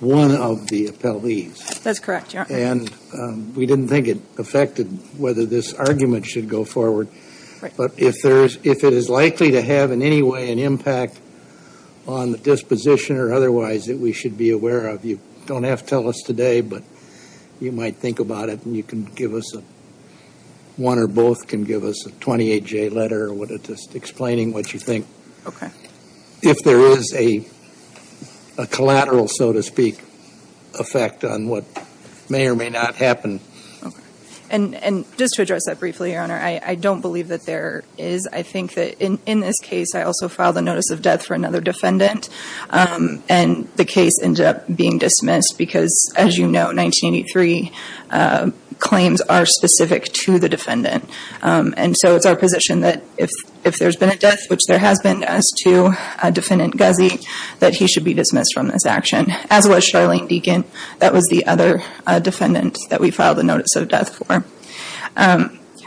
One of the appellees. That's correct. Yeah, and we didn't think it affected whether this argument should go forward But if there's if it is likely to have in any way an impact On the disposition or otherwise that we should be aware of you don't have to tell us today But you might think about it and you can give us a one or both can give us a 28 J letter or what it just explaining what you think, okay, if there is a Collateral so to speak effect on what may or may not happen and Just to address that briefly your honor. I I don't believe that there is I think that in in this case I also filed a notice of death for another defendant And the case ended up being dismissed because as you know 1983 Claims are specific to the defendant And so it's our position that if if there's been a death which there has been as to Defendant Guzzi that he should be dismissed from this action as well as Charlene Deacon. That was the other Defendant that we filed a notice of death for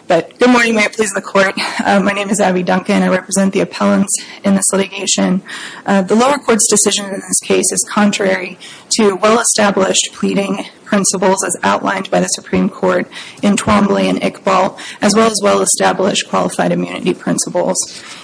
But good morning may it please the court. My name is Abby Duncan. I represent the appellants in this litigation The lower courts decision in this case is contrary to well-established pleading Principles as outlined by the Supreme Court in Twombly and Iqbal as well as well-established Qualified immunity principles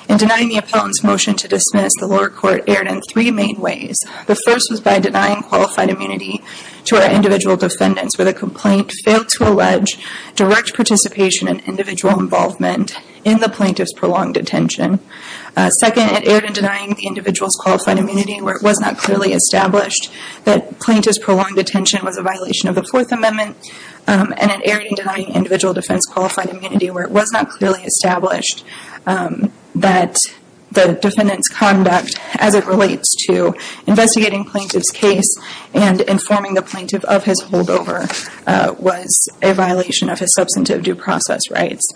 in denying the appellant's motion to dismiss the lower court aired in three main ways The first was by denying qualified immunity to our individual defendants with a complaint failed to allege direct participation and individual involvement in the plaintiff's prolonged detention Second it aired in denying the individual's qualified immunity where it was not clearly established That plaintiff's prolonged detention was a violation of the Fourth Amendment And it aired in denying individual defense qualified immunity where it was not clearly established that the defendant's conduct as it relates to investigating plaintiff's case and Informing the plaintiff of his holdover Was a violation of his substantive due process rights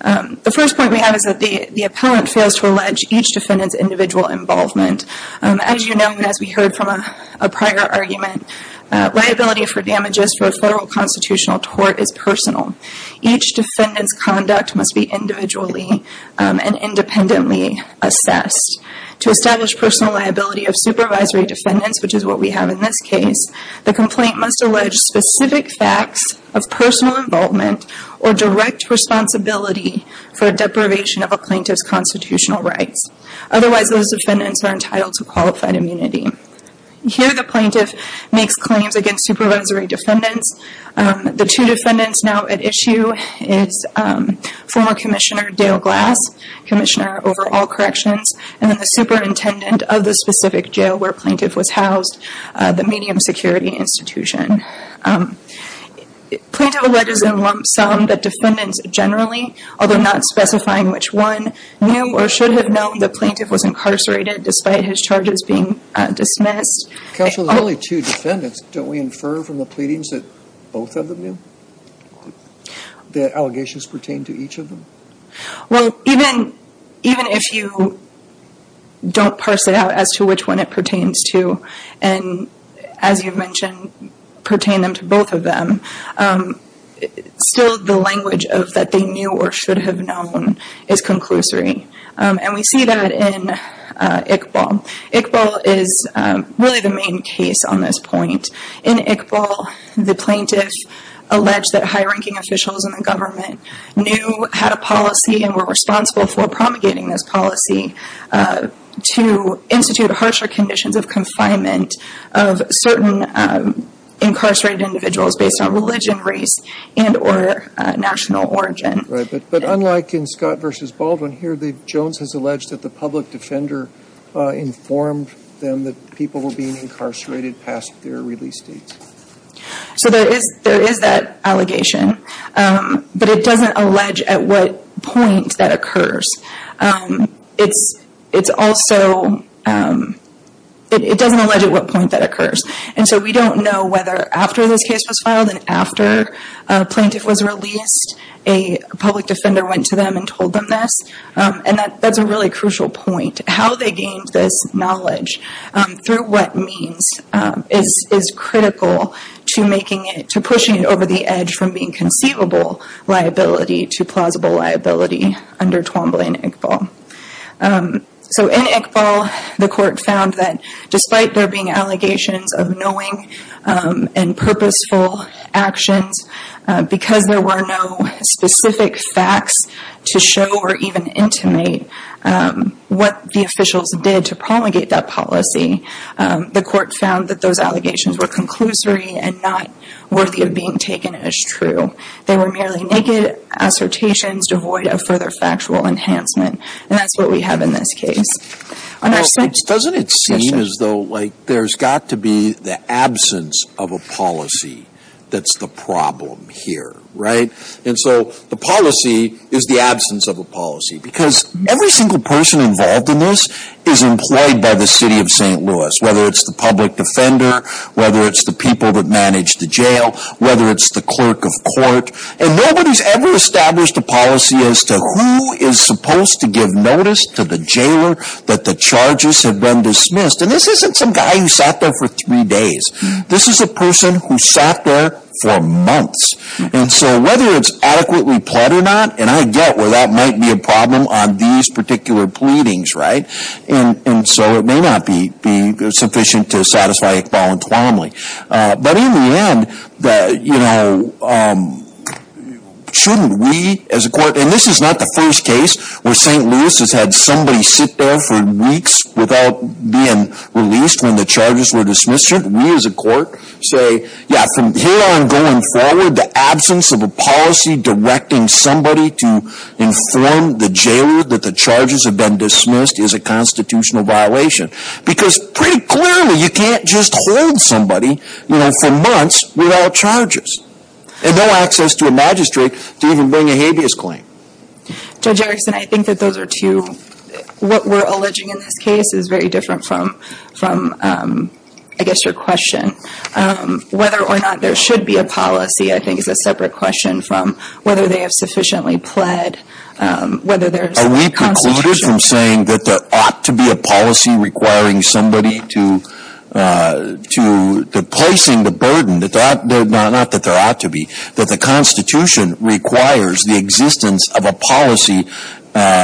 The first point we have is that the the appellant fails to allege each defendant's individual involvement As you know as we heard from a prior argument Liability for damages for a federal constitutional tort is personal. Each defendant's conduct must be individually and independently assessed To establish personal liability of supervisory defendants, which is what we have in this case The complaint must allege specific facts of personal involvement or direct responsibility For a deprivation of a plaintiff's constitutional rights. Otherwise, those defendants are entitled to qualified immunity Here the plaintiff makes claims against supervisory defendants. The two defendants now at issue is former Commissioner Dale Glass Commissioner over all corrections and then the superintendent of the specific jail where plaintiff was housed, the medium security institution Plaintiff alleges in lump sum that defendants generally, although not specifying which one, knew or should have known the plaintiff was Dismissed. Counsel, there's only two defendants. Don't we infer from the pleadings that both of them knew? The allegations pertain to each of them. Well, even even if you Don't parse it out as to which one it pertains to and as you mentioned pertain them to both of them Still the language of that they knew or should have known is conclusory and we see that in Iqbal is Really the main case on this point. In Iqbal the plaintiff Alleged that high-ranking officials in the government knew had a policy and were responsible for promulgating this policy to institute harsher conditions of confinement of certain incarcerated individuals based on religion, race, and or National origin. But unlike in Scott versus Baldwin here, the Jones has alleged that the public defender Informed them that people were being incarcerated past their release date So there is there is that allegation? But it doesn't allege at what point that occurs it's it's also It doesn't allege at what point that occurs and so we don't know whether after this case was filed and after Plaintiff was released a public defender went to them and told them this and that that's a really crucial point How they gained this knowledge Through what means is is critical to making it to pushing it over the edge from being conceivable liability to plausible liability under Twombly and Iqbal So in Iqbal the court found that despite there being allegations of knowing and purposeful actions Because there were no specific facts to show or even intimate What the officials did to promulgate that policy The court found that those allegations were conclusory and not worthy of being taken as true. They were merely naked Assertions devoid of further factual enhancement and that's what we have in this case Doesn't it seem as though like there's got to be the absence of a policy That's the problem here right and so the policy is the absence of a policy because every single person involved in this is Employed by the city of st. Louis whether it's the public defender whether it's the people that manage the jail Whether it's the clerk of court and nobody's ever established a policy as to who is supposed to give notice to the jailer That the charges have been dismissed and this isn't some guy who sat there for three days This is a person who sat there for months And so whether it's adequately pled or not and I get where that might be a problem on these particular Pleadings right and and so it may not be be sufficient to satisfy Iqbal entwinedly, but in the end that you know Shouldn't we as a court and this is not the first case where st Louis has had somebody sit there for weeks without being released when the charges were dismissed We as a court say yeah from here on going forward the absence of a policy directing somebody to inform the jailer that the charges have been dismissed is a Constitutional violation because pretty clearly you can't just hold somebody you know for months without charges And no access to a magistrate to even bring a habeas claim Judge Erickson, I think that those are two What we're alleging in this case is very different from from I guess your question Whether or not there should be a policy. I think is a separate question from whether they have sufficiently pled Whether there's we concluded from saying that there ought to be a policy requiring somebody to To the placing the burden that that they're not that there ought to be that the Constitution Requires the existence of a policy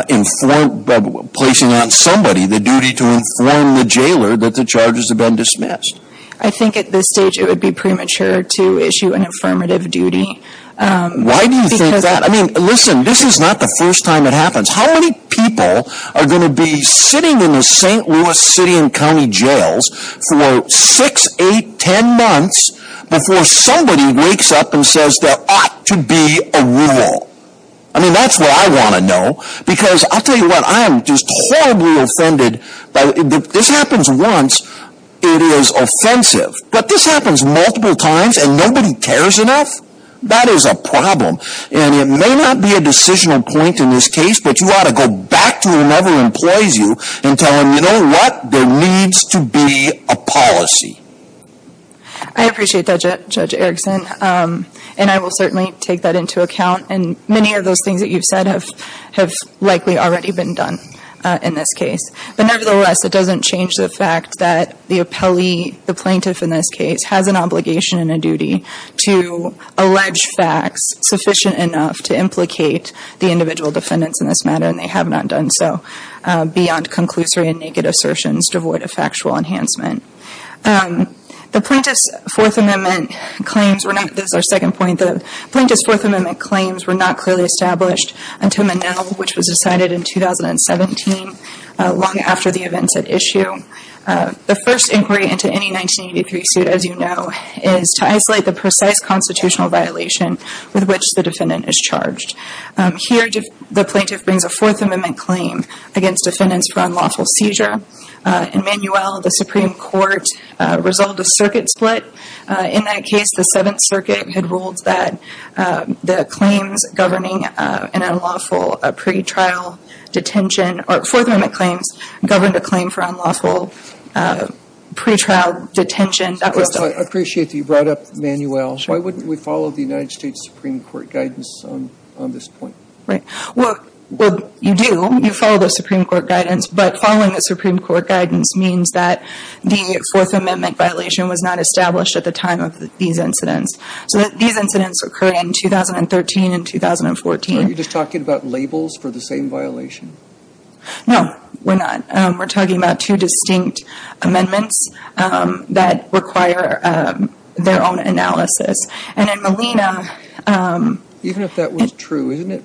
Informed Placing on somebody the duty to inform the jailer that the charges have been dismissed I think at this stage it would be premature to issue an affirmative duty Why do you think that I mean listen? This is not the first time it happens how many people are going to be sitting in the st. Louis City and County Jails for six eight ten months Before somebody wakes up and says there ought to be a rule I mean, that's what I want to know because I'll tell you what I'm just horribly offended This happens once it is offensive, but this happens multiple times and nobody cares enough That is a problem, and it may not be a decisional point in this case But you ought to go back to whoever employs you and tell them you know what there needs to be a policy I Of those things that you've said have have likely already been done in this case But nevertheless it doesn't change the fact that the appellee the plaintiff in this case has an obligation and a duty to Allege facts sufficient enough to implicate the individual defendants in this matter, and they have not done so beyond conclusory and naked assertions devoid of factual enhancement The plaintiff's Fourth Amendment claims were not, this is our second point, the plaintiff's Fourth Amendment claims were not clearly established until Manelle which was decided in 2017 long after the events at issue The first inquiry into any 1983 suit as you know is to isolate the precise constitutional violation with which the defendant is charged Here the plaintiff brings a Fourth Amendment claim against defendants for unlawful seizure In Manuelle the Supreme Court resolved a circuit split. In that case the Seventh Circuit had ruled that the claims governing an unlawful pretrial detention or Fourth Amendment claims governed a claim for unlawful pretrial detention I appreciate that you brought up Manuelle. Why wouldn't we follow the United States Supreme Court guidance on this point? Well, you do, you follow the Supreme Court guidance But following the Supreme Court guidance means that the Fourth Amendment violation was not established at the time of these incidents So these incidents occurred in 2013 and 2014. Are you just talking about labels for the same violation? No, we're not. We're talking about two distinct amendments that require their own analysis and in Malina Even if that was true, isn't it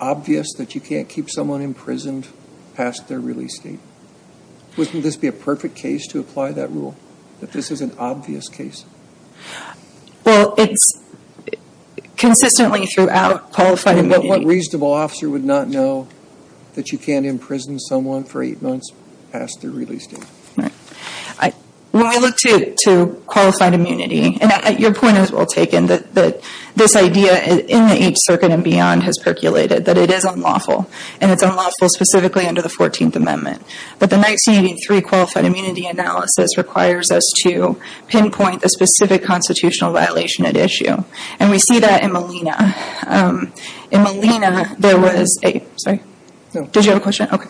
obvious that you can't keep someone imprisoned past their release date? Wouldn't this be a perfect case to apply that rule? That this is an obvious case? Well, it's consistently throughout qualified immunity. What reasonable officer would not know that you can't imprison someone for eight months past their release date? When we look to qualified immunity, and your point is well taken, that this idea in the Eighth Circuit and beyond has percolated, that it is unlawful and it's unlawful specifically under the 14th Amendment But the 1983 qualified immunity analysis requires us to pinpoint a specific constitutional violation at issue and we see that in Malina In Malina, there was a, sorry, did you have a question? Okay,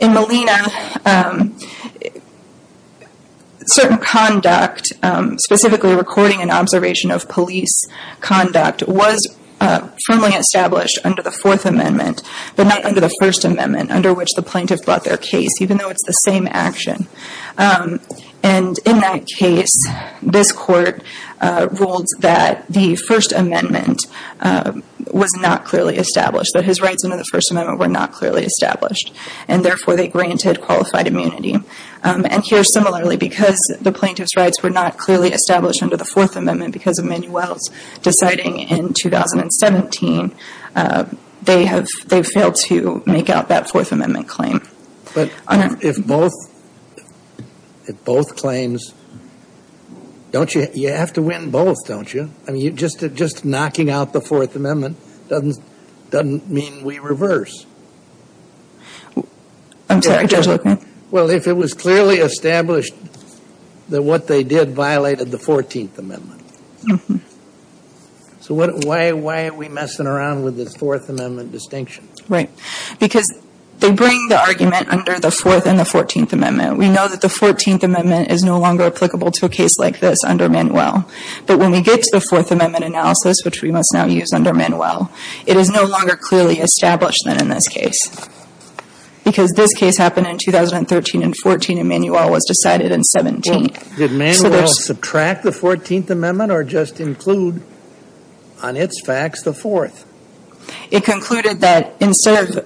in Malina certain Conduct specifically recording an observation of police conduct was firmly established under the Fourth Amendment But not under the First Amendment under which the plaintiff brought their case even though it's the same action And in that case this court ruled that the First Amendment was not clearly established, that his rights under the First Amendment were not clearly established and therefore they granted qualified immunity And here similarly because the plaintiff's rights were not clearly established under the Fourth Amendment because of Manuel's deciding in 2017 They have, they failed to make out that Fourth Amendment claim. But if both if both claims Don't you, you have to win both, don't you? I mean you just, just knocking out the Fourth Amendment doesn't, doesn't mean we reverse Well, if it was clearly established that what they did violated the Fourteenth Amendment So what, why, why are we messing around with this Fourth Amendment distinction? Right, because they bring the argument under the Fourth and the Fourteenth Amendment We know that the Fourteenth Amendment is no longer applicable to a case like this under Manuel But when we get to the Fourth Amendment analysis, which we must now use under Manuel, it is no longer clearly established than in this case Because this case happened in 2013 and 14 and Manuel was decided in 17 Did Manuel subtract the Fourteenth Amendment or just include on its facts the Fourth? It concluded that instead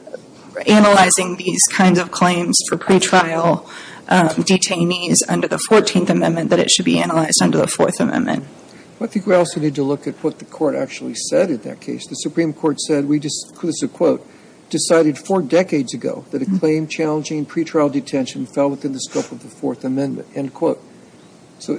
of claims for pretrial Detainees under the Fourteenth Amendment that it should be analyzed under the Fourth Amendment But I think we also need to look at what the court actually said in that case. The Supreme Court said we just, this is a quote Decided four decades ago that a claim challenging pretrial detention fell within the scope of the Fourth Amendment, end quote so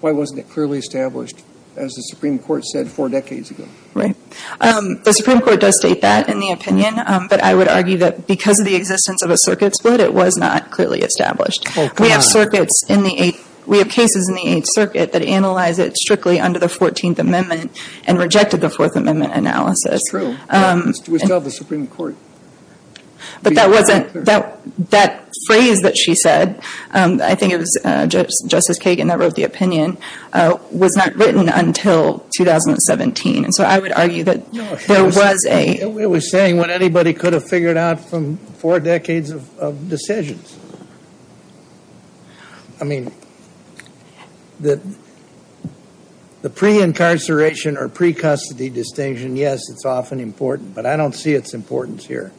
Why wasn't it clearly established as the Supreme Court said four decades ago? Right The Supreme Court does state that in the opinion But I would argue that because of the existence of a circuit split, it was not clearly established We have circuits in the Eighth We have cases in the Eighth Circuit that analyze it strictly under the Fourteenth Amendment and rejected the Fourth Amendment analysis But that wasn't that that phrase that she said I think it was just Justice Kagan that wrote the opinion Was not written until 2017 and so I would argue that there was a it was saying what anybody could have figured out from four decades of decisions I Mean that The pre-incarceration or pre-custody distinction. Yes, it's often important, but I don't see its importance here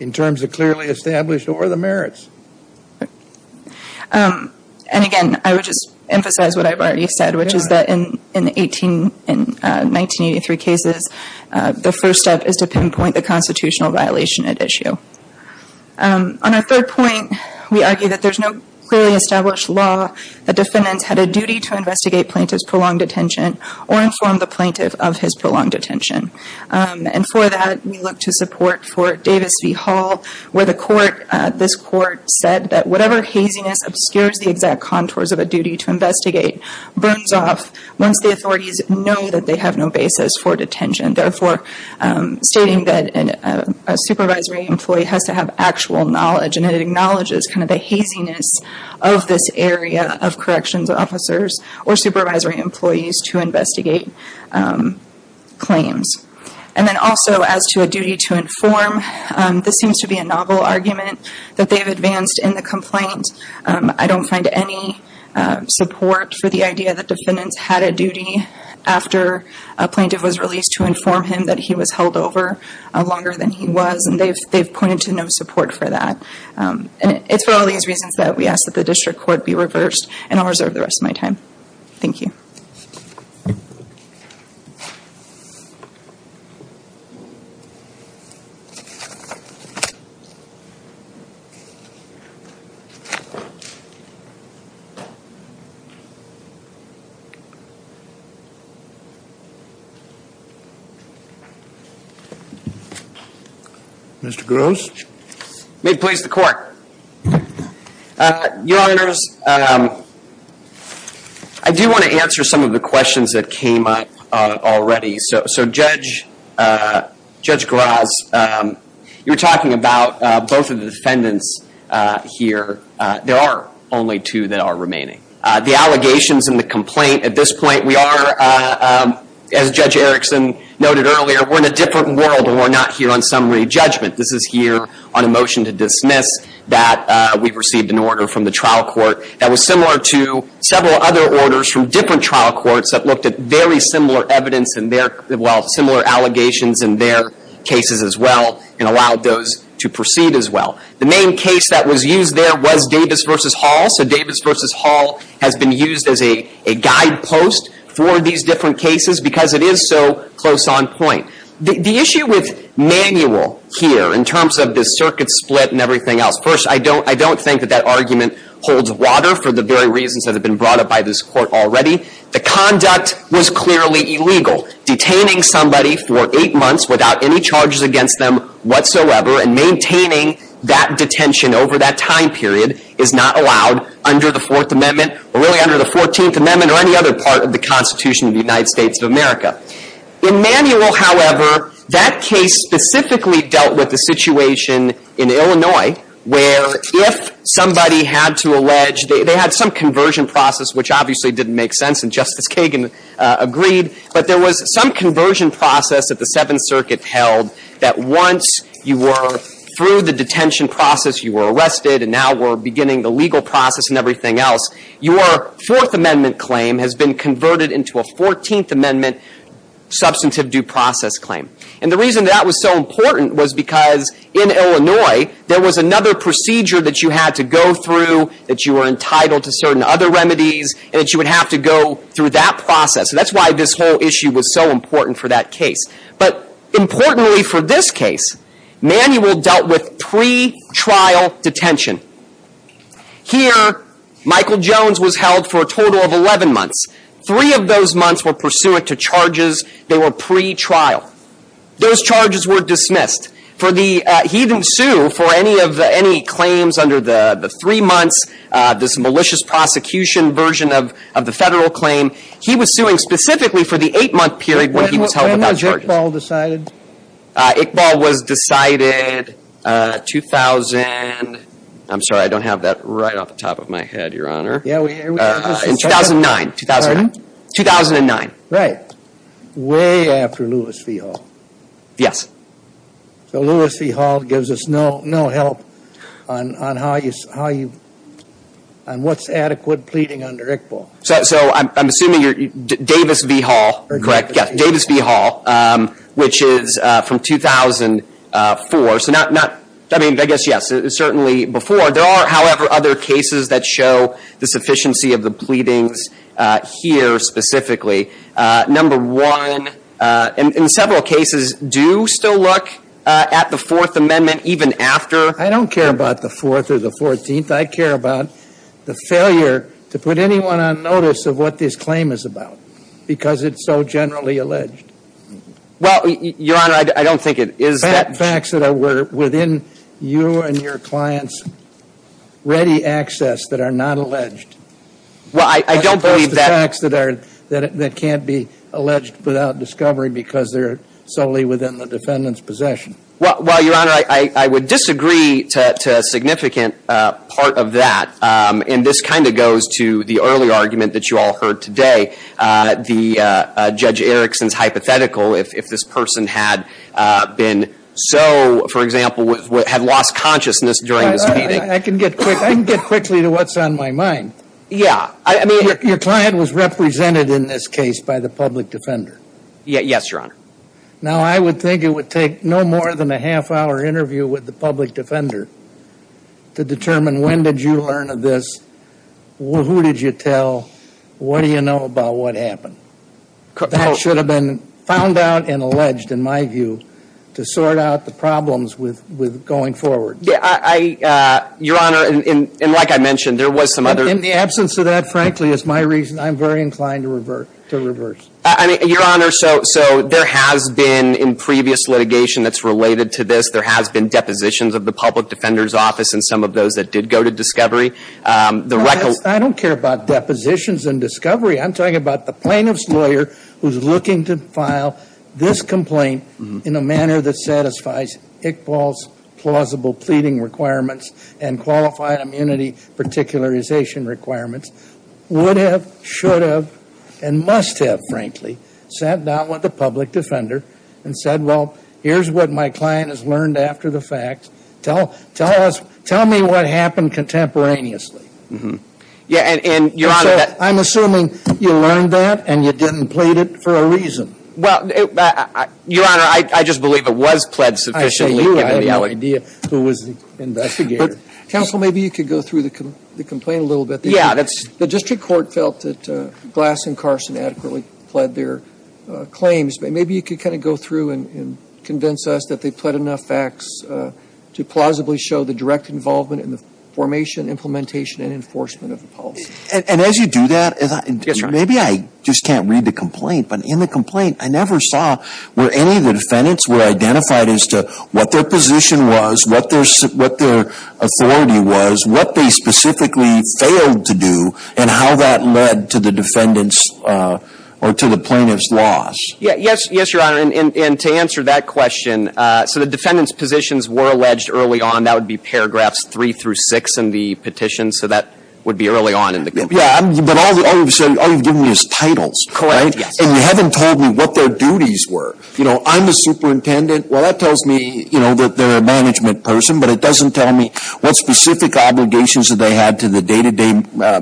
in terms of clearly established or the merits And again, I would just emphasize what I've already said, which is that in in the 18 in 1983 cases the first step is to pinpoint the constitutional violation at issue On our third point we argue that there's no clearly established law The defendants had a duty to investigate plaintiff's prolonged detention or inform the plaintiff of his prolonged detention And for that we look to support for Davis v Hall where the court this court said that whatever haziness obscures the exact contours of a duty to investigate burns off once the authorities know that they have no basis for detention therefore stating that a supervisory employee has to have actual knowledge and it acknowledges kind of the haziness of This area of corrections officers or supervisory employees to investigate claims and then also as to a duty to inform This seems to be a novel argument that they have advanced in the complaint. I don't find any support for the idea that defendants had a duty after a plaintiff was released to inform him that he was held over Longer than he was and they've they've pointed to no support for that It's for all these reasons that we ask that the district court be reversed and I'll reserve the rest of my time. Thank you You Mr. Gross may please the court Your honors I Do want to answer some of the questions that came up already so judge Judge Gross You're talking about both of the defendants Here, there are only two that are remaining the allegations in the complaint at this point. We are As judge Erickson noted earlier, we're in a different world and we're not here on summary judgment This is here on a motion to dismiss that We've received an order from the trial court that was similar to Similar evidence in there Well similar allegations in their cases as well and allowed those to proceed as well The main case that was used there was Davis versus Hall So Davis versus Hall has been used as a a guide post for these different cases because it is so close on point the issue with Manual here in terms of the circuit split and everything else first I don't I don't think that that argument holds water for the very reasons that have been brought up by this court already The conduct was clearly illegal detaining somebody for eight months without any charges against them whatsoever And maintaining that detention over that time period is not allowed under the Fourth Amendment Or really under the 14th Amendment or any other part of the Constitution of the United States of America in manual however, that case specifically dealt with the situation in Illinois where if Somebody had to allege they had some conversion process, which obviously didn't make sense and Justice Kagan Agreed, but there was some conversion process at the Seventh Circuit held that once you were through the detention process You were arrested and now we're beginning the legal process and everything else Your Fourth Amendment claim has been converted into a 14th Amendment Substantive due process claim and the reason that was so important was because in Illinois There was another procedure that you had to go through that you were entitled to certain other remedies And that you would have to go through that process. That's why this whole issue was so important for that case, but Importantly for this case manual dealt with pre-trial detention Here Michael Jones was held for a total of 11 months three of those months were pursuant to charges They were pre trial Those charges were dismissed for the heathen sue for any of the any claims under the the three months This malicious prosecution version of the federal claim. He was suing specifically for the eight-month period when he was held without charges Iqbal was decided 2000 I'm sorry. I don't have that right off the top of my head your honor. Yeah 2009 2009 right Way after Lewis v. Hall, yes So Lewis v. Hall gives us no no help on how you What's adequate pleading under Iqbal? So I'm assuming you're Davis v. Hall, correct? Yes Davis v. Hall which is from 2004 so not not I mean, I guess yes, it's certainly before there are however other cases that show the sufficiency of the pleadings here specifically number one And in several cases do still look at the Fourth Amendment even after I don't care about the fourth or the 14th I care about the failure to put anyone on notice of what this claim is about because it's so generally alleged Well, your honor. I don't think it is that facts that are were within you and your clients Ready access that are not alleged Well, I don't believe that acts that are that can't be alleged without discovery because they're solely within the defendants possession Well, well, your honor, I would disagree to Significant part of that and this kind of goes to the early argument that you all heard today the judge Erickson's hypothetical if this person had Been so for example with what had lost consciousness during this meeting I can get quick Quickly to what's on my mind? Yeah, I mean your client was represented in this case by the public defender Yeah, yes, your honor. Now. I would think it would take no more than a half-hour interview with the public defender To determine when did you learn of this? Well, who did you tell? What do you know about what happened? That should have been found out and alleged in my view to sort out the problems with with going forward Your honor and like I mentioned there was some other in the absence of that frankly is my reason I'm very inclined to revert to reverse. I mean your honor. So so there has been in previous litigation That's related to this there has been depositions of the public defender's office and some of those that did go to discovery The record I don't care about depositions and discovery I'm talking about the plaintiff's lawyer who's looking to file this complaint in a manner that satisfies Iqbal's plausible pleading requirements and qualified immunity particularization requirements Would have should have and must have frankly sat down with the public defender and said well Here's what my client has learned after the fact tell tell us tell me what happened contemporaneously Mm-hmm. Yeah, and your honor. I'm assuming you learned that and you didn't plead it for a reason well Your honor, I just believe it was pledged sufficiently Counsel maybe you could go through the complaint a little bit Yeah, that's the district court felt that glass and Carson adequately pled their Claims, but maybe you could kind of go through and convince us that they pled enough facts To plausibly show the direct involvement in the formation implementation and enforcement of the policy and as you do that Maybe I just can't read the complaint, but in the complaint I never saw where any of the defendants were identified as to what their position was what there's what their Authority was what they specifically failed to do and how that led to the defendants Or to the plaintiff's loss yes, yes, your honor and to answer that question So the defendants positions were alleged early on that would be paragraphs three through six in the petition So that would be early on in the game. Yeah, but all you've given me is titles correct Yes, and you haven't told me what their duties were you know I'm the superintendent well that tells me you know that they're a management Person, but it doesn't tell me what specific obligations that they had to the day-to-day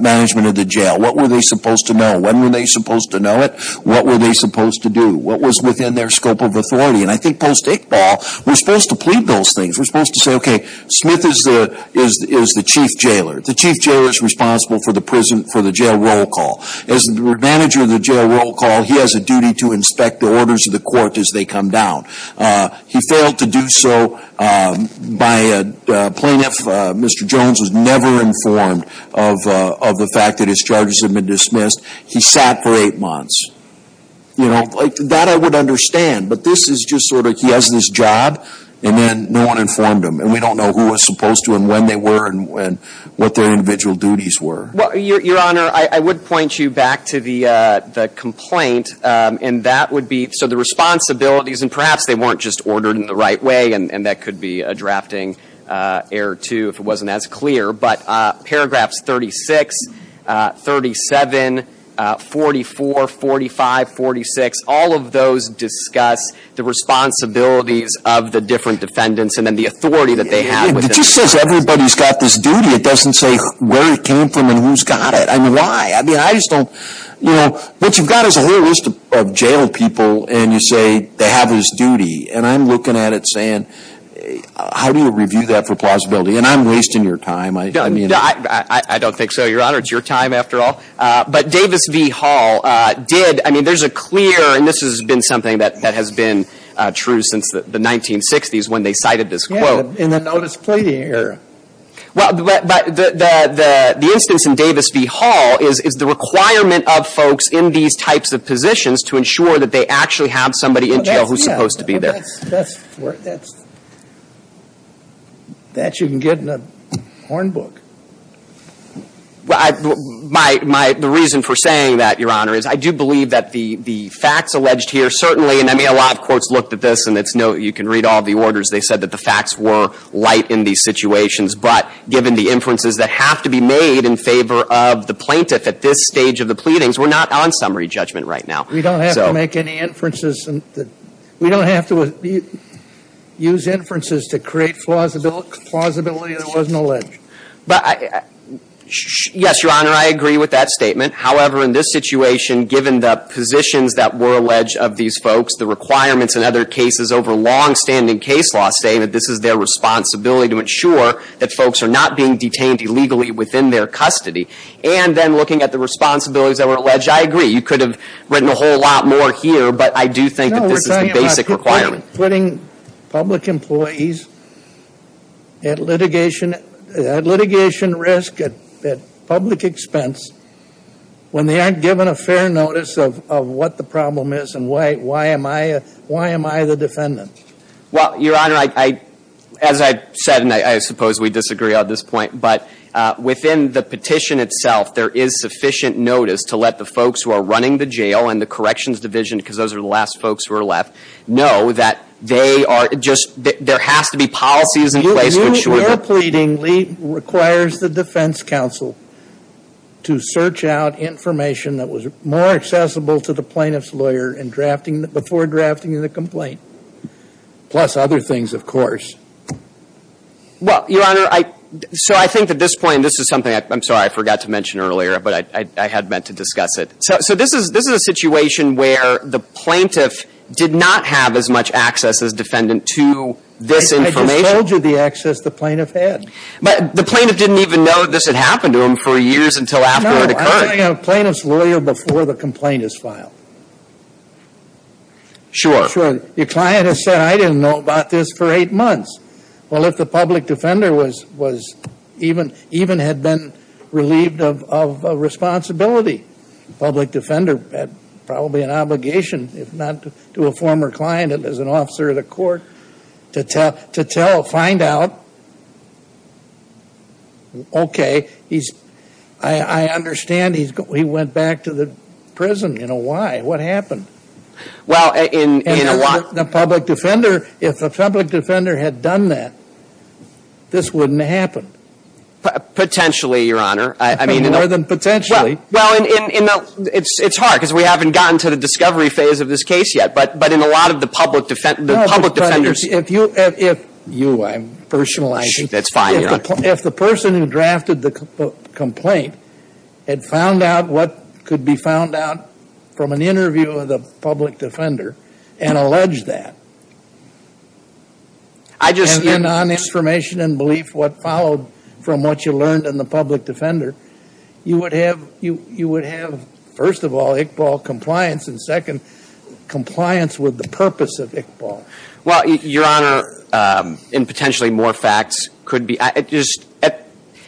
Management of the jail what were they supposed to know when were they supposed to know it? What were they supposed to do? What was within their scope of authority, and I think post-it ball We're supposed to plead those things We're supposed to say okay Smith is there is the chief jailer the chief jailer is responsible for the prison for the jail roll call As the manager of the jail roll call he has a duty to inspect the orders of the court as they come down He failed to do so by a Plaintiff mr.. Jones was never informed of The fact that his charges have been dismissed he sat for eight months You know that I would understand, but this is just sort of he has this job And then no one informed him And we don't know who was supposed to and when they were and when what their individual duties were well your honor I would point you back to the the complaint and that would be so the Responsibilities and perhaps they weren't just ordered in the right way and and that could be a drafting Error too if it wasn't as clear, but paragraphs 36 37 44 45 46 all of those discuss the Responsibilities of the different defendants, and then the authority that they have everybody's got this duty It doesn't say where it came from and who's got it I mean why I mean I just don't you know what you've got is a whole list of jail people And you say they have his duty, and I'm looking at it saying How do you review that for plausibility, and I'm wasting your time. I don't mean I I don't think so your honor It's your time after all but Davis V Hall did I mean there's a clear and this has been something that that has been True since the 1960s when they cited this quote in the notice pleading here Well, but the the the instance in Davis V Hall is is the requirement of folks in these types of positions to ensure that they actually have somebody in jail who's supposed to be there That you can get in a horn book Well I Might might the reason for saying that your honor is I do believe that the the facts alleged here certainly And I mean a lot of courts looked at this, and it's no you can read all the orders They said that the facts were light in these situations But given the inferences that have to be made in favor of the plaintiff at this stage of the pleadings We're not on summary judgment right now. We don't have to make any inferences and we don't have to use inferences to create Plausible plausibility there wasn't a ledge, but I Yes, your honor. I agree with that statement however in this situation Given the positions that were alleged of these folks the requirements and other cases over long-standing case law statement This is their responsibility to ensure that folks are not being detained illegally within their custody And then looking at the responsibilities that were alleged I agree you could have written a whole lot more here But I do think this is a basic requirement putting Public employees At litigation at litigation risk at public expense When they aren't given a fair notice of what the problem is and why why am I why am I the defendant well your honor? I as I said and I suppose we disagree on this point, but within the petition itself There is sufficient notice to let the folks who are running the jail and the corrections division because those are the last folks who are left Know that they are just there has to be policies in place which we're pleading Lee requires the defense counsel To search out information that was more accessible to the plaintiff's lawyer and drafting before drafting in the complaint plus other things of course Well your honor. I so I think at this point. This is something. I'm sorry I forgot to mention earlier, but I had meant to discuss it So this is this is a situation where the plaintiff did not have as much access as defendant to this I told you the access the plaintiff had but the plaintiff didn't even know this had happened to him for years until after plaintiff's lawyer before the complaint is filed Sure sure your client has said I didn't know about this for eight months well if the public defender was was even even had been relieved of Responsibility public defender had probably an obligation if not to a former client and as an officer of the court to tell to tell find out Okay, he's I Understand he's got we went back to the prison. You know why what happened? Well in a lot the public defender if the public defender had done that This wouldn't happen Potentially your honor I mean in other than potentially well in It's it's hard because we haven't gotten to the discovery phase of this case yet But but in a lot of the public defense the public defenders if you if you I'm personal I think that's fine if the person who drafted the Complaint had found out what could be found out from an interview of the public defender and allege that I Followed from what you learned in the public defender you would have you you would have first of all Iqbal compliance and second Compliance with the purpose of Iqbal. Well your honor in potentially more facts could be I just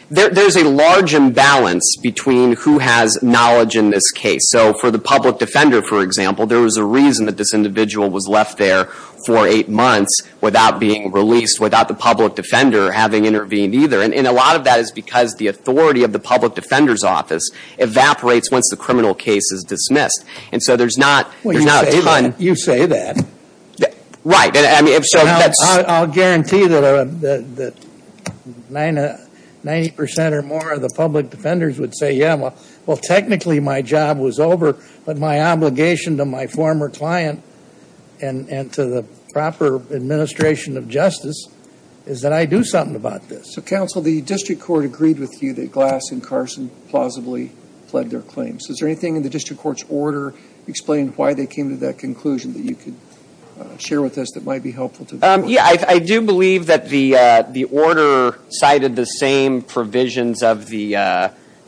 There's a large imbalance between who has knowledge in this case so for the public defender for example There was a reason that this individual was left there for eight months without being released without the public defender having intervened Either and in a lot of that is because the authority of the public defender's office Evaporates once the criminal case is dismissed and so there's not we're not on you say that Right, and I mean if so, that's I'll guarantee that Nine a 90% or more of the public defenders would say yeah, well well technically my job was over But my obligation to my former client and and to the proper Administration of justice is that I do something about this so counsel the district court agreed with you that glass and Carson Plausibly pled their claims is there anything in the district courts order explained why they came to that conclusion that you could Share with us that might be helpful to them. Yeah, I do believe that the the order cited the same provisions of the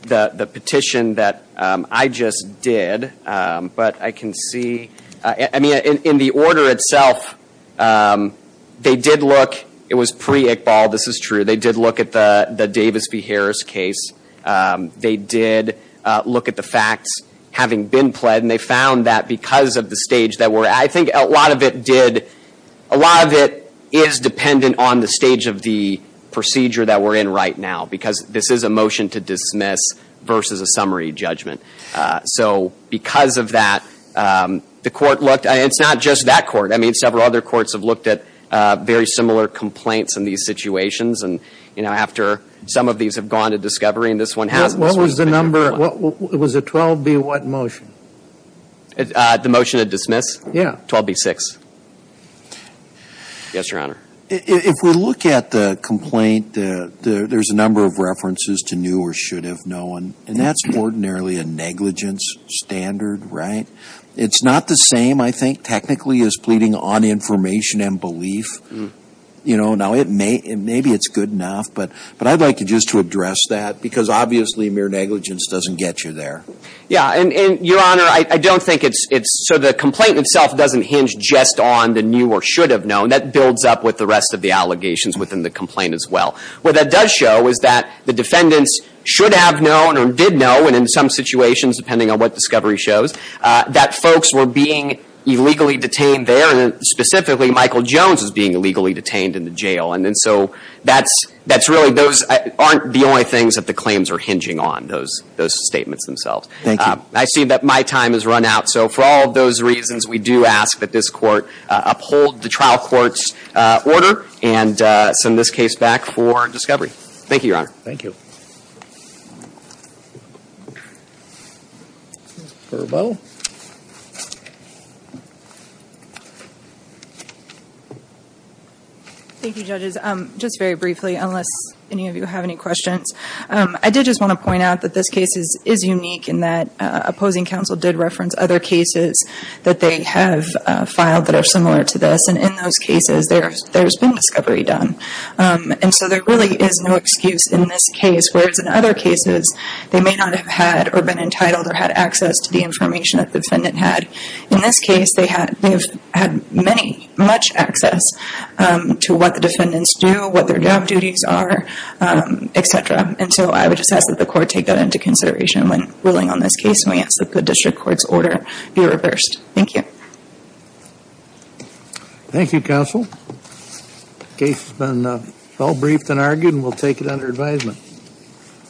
The the petition that I just did But I can see I mean in the order itself They did look it was pre Iqbal. This is true. They did look at the the Davis v. Harris case They did look at the facts having been pled and they found that because of the stage that were I think a lot of it did a lot of it is dependent on the stage of the Procedure that we're in right now because this is a motion to dismiss versus a summary judgment so because of that The court looked it's not just that court I mean several other courts have looked at very similar complaints in these situations And you know after some of these have gone to discovery and this one has what was the number? What was a 12 be what motion? The motion to dismiss. Yeah 12 b6 Yes, your honor if we look at the complaint There's a number of references to new or should have no one and that's ordinarily a negligence Standard right? It's not the same. I think technically is pleading on information and belief You know now it may and maybe it's good enough But but I'd like you just to address that because obviously mere negligence doesn't get you there. Yeah, and your honor I don't think it's it's so the complaint itself doesn't hinge just on the new or should have known that builds up with the rest of The allegations within the complaint as well What that does show is that the defendants should have known or did know and in some situations depending on what discovery shows That folks were being illegally detained there and specifically Michael Jones is being illegally detained in the jail And then so that's that's really those aren't the only things that the claims are hinging on those those statements themselves I see that my time has run out so for all those reasons we do ask that this court uphold the trial courts Order and send this case back for discovery. Thank you. Your honor. Thank you Thank you judges, I'm just very briefly unless any of you have any questions I did just want to point out that this case is is unique in that Opposing counsel did reference other cases that they have Filed that are similar to this and in those cases. There's there's been discovery done And so there really is no excuse in this case Where it's in other cases They may not have had or been entitled or had access to the information that the defendant had in this case They had they've had many much access To what the defendants do what their job duties are Etc. And so I would just ask that the court take that into consideration when ruling on this case We ask that the district courts order be reversed. Thank you Thank You counsel case has been well briefed and argued and we'll take it under advisement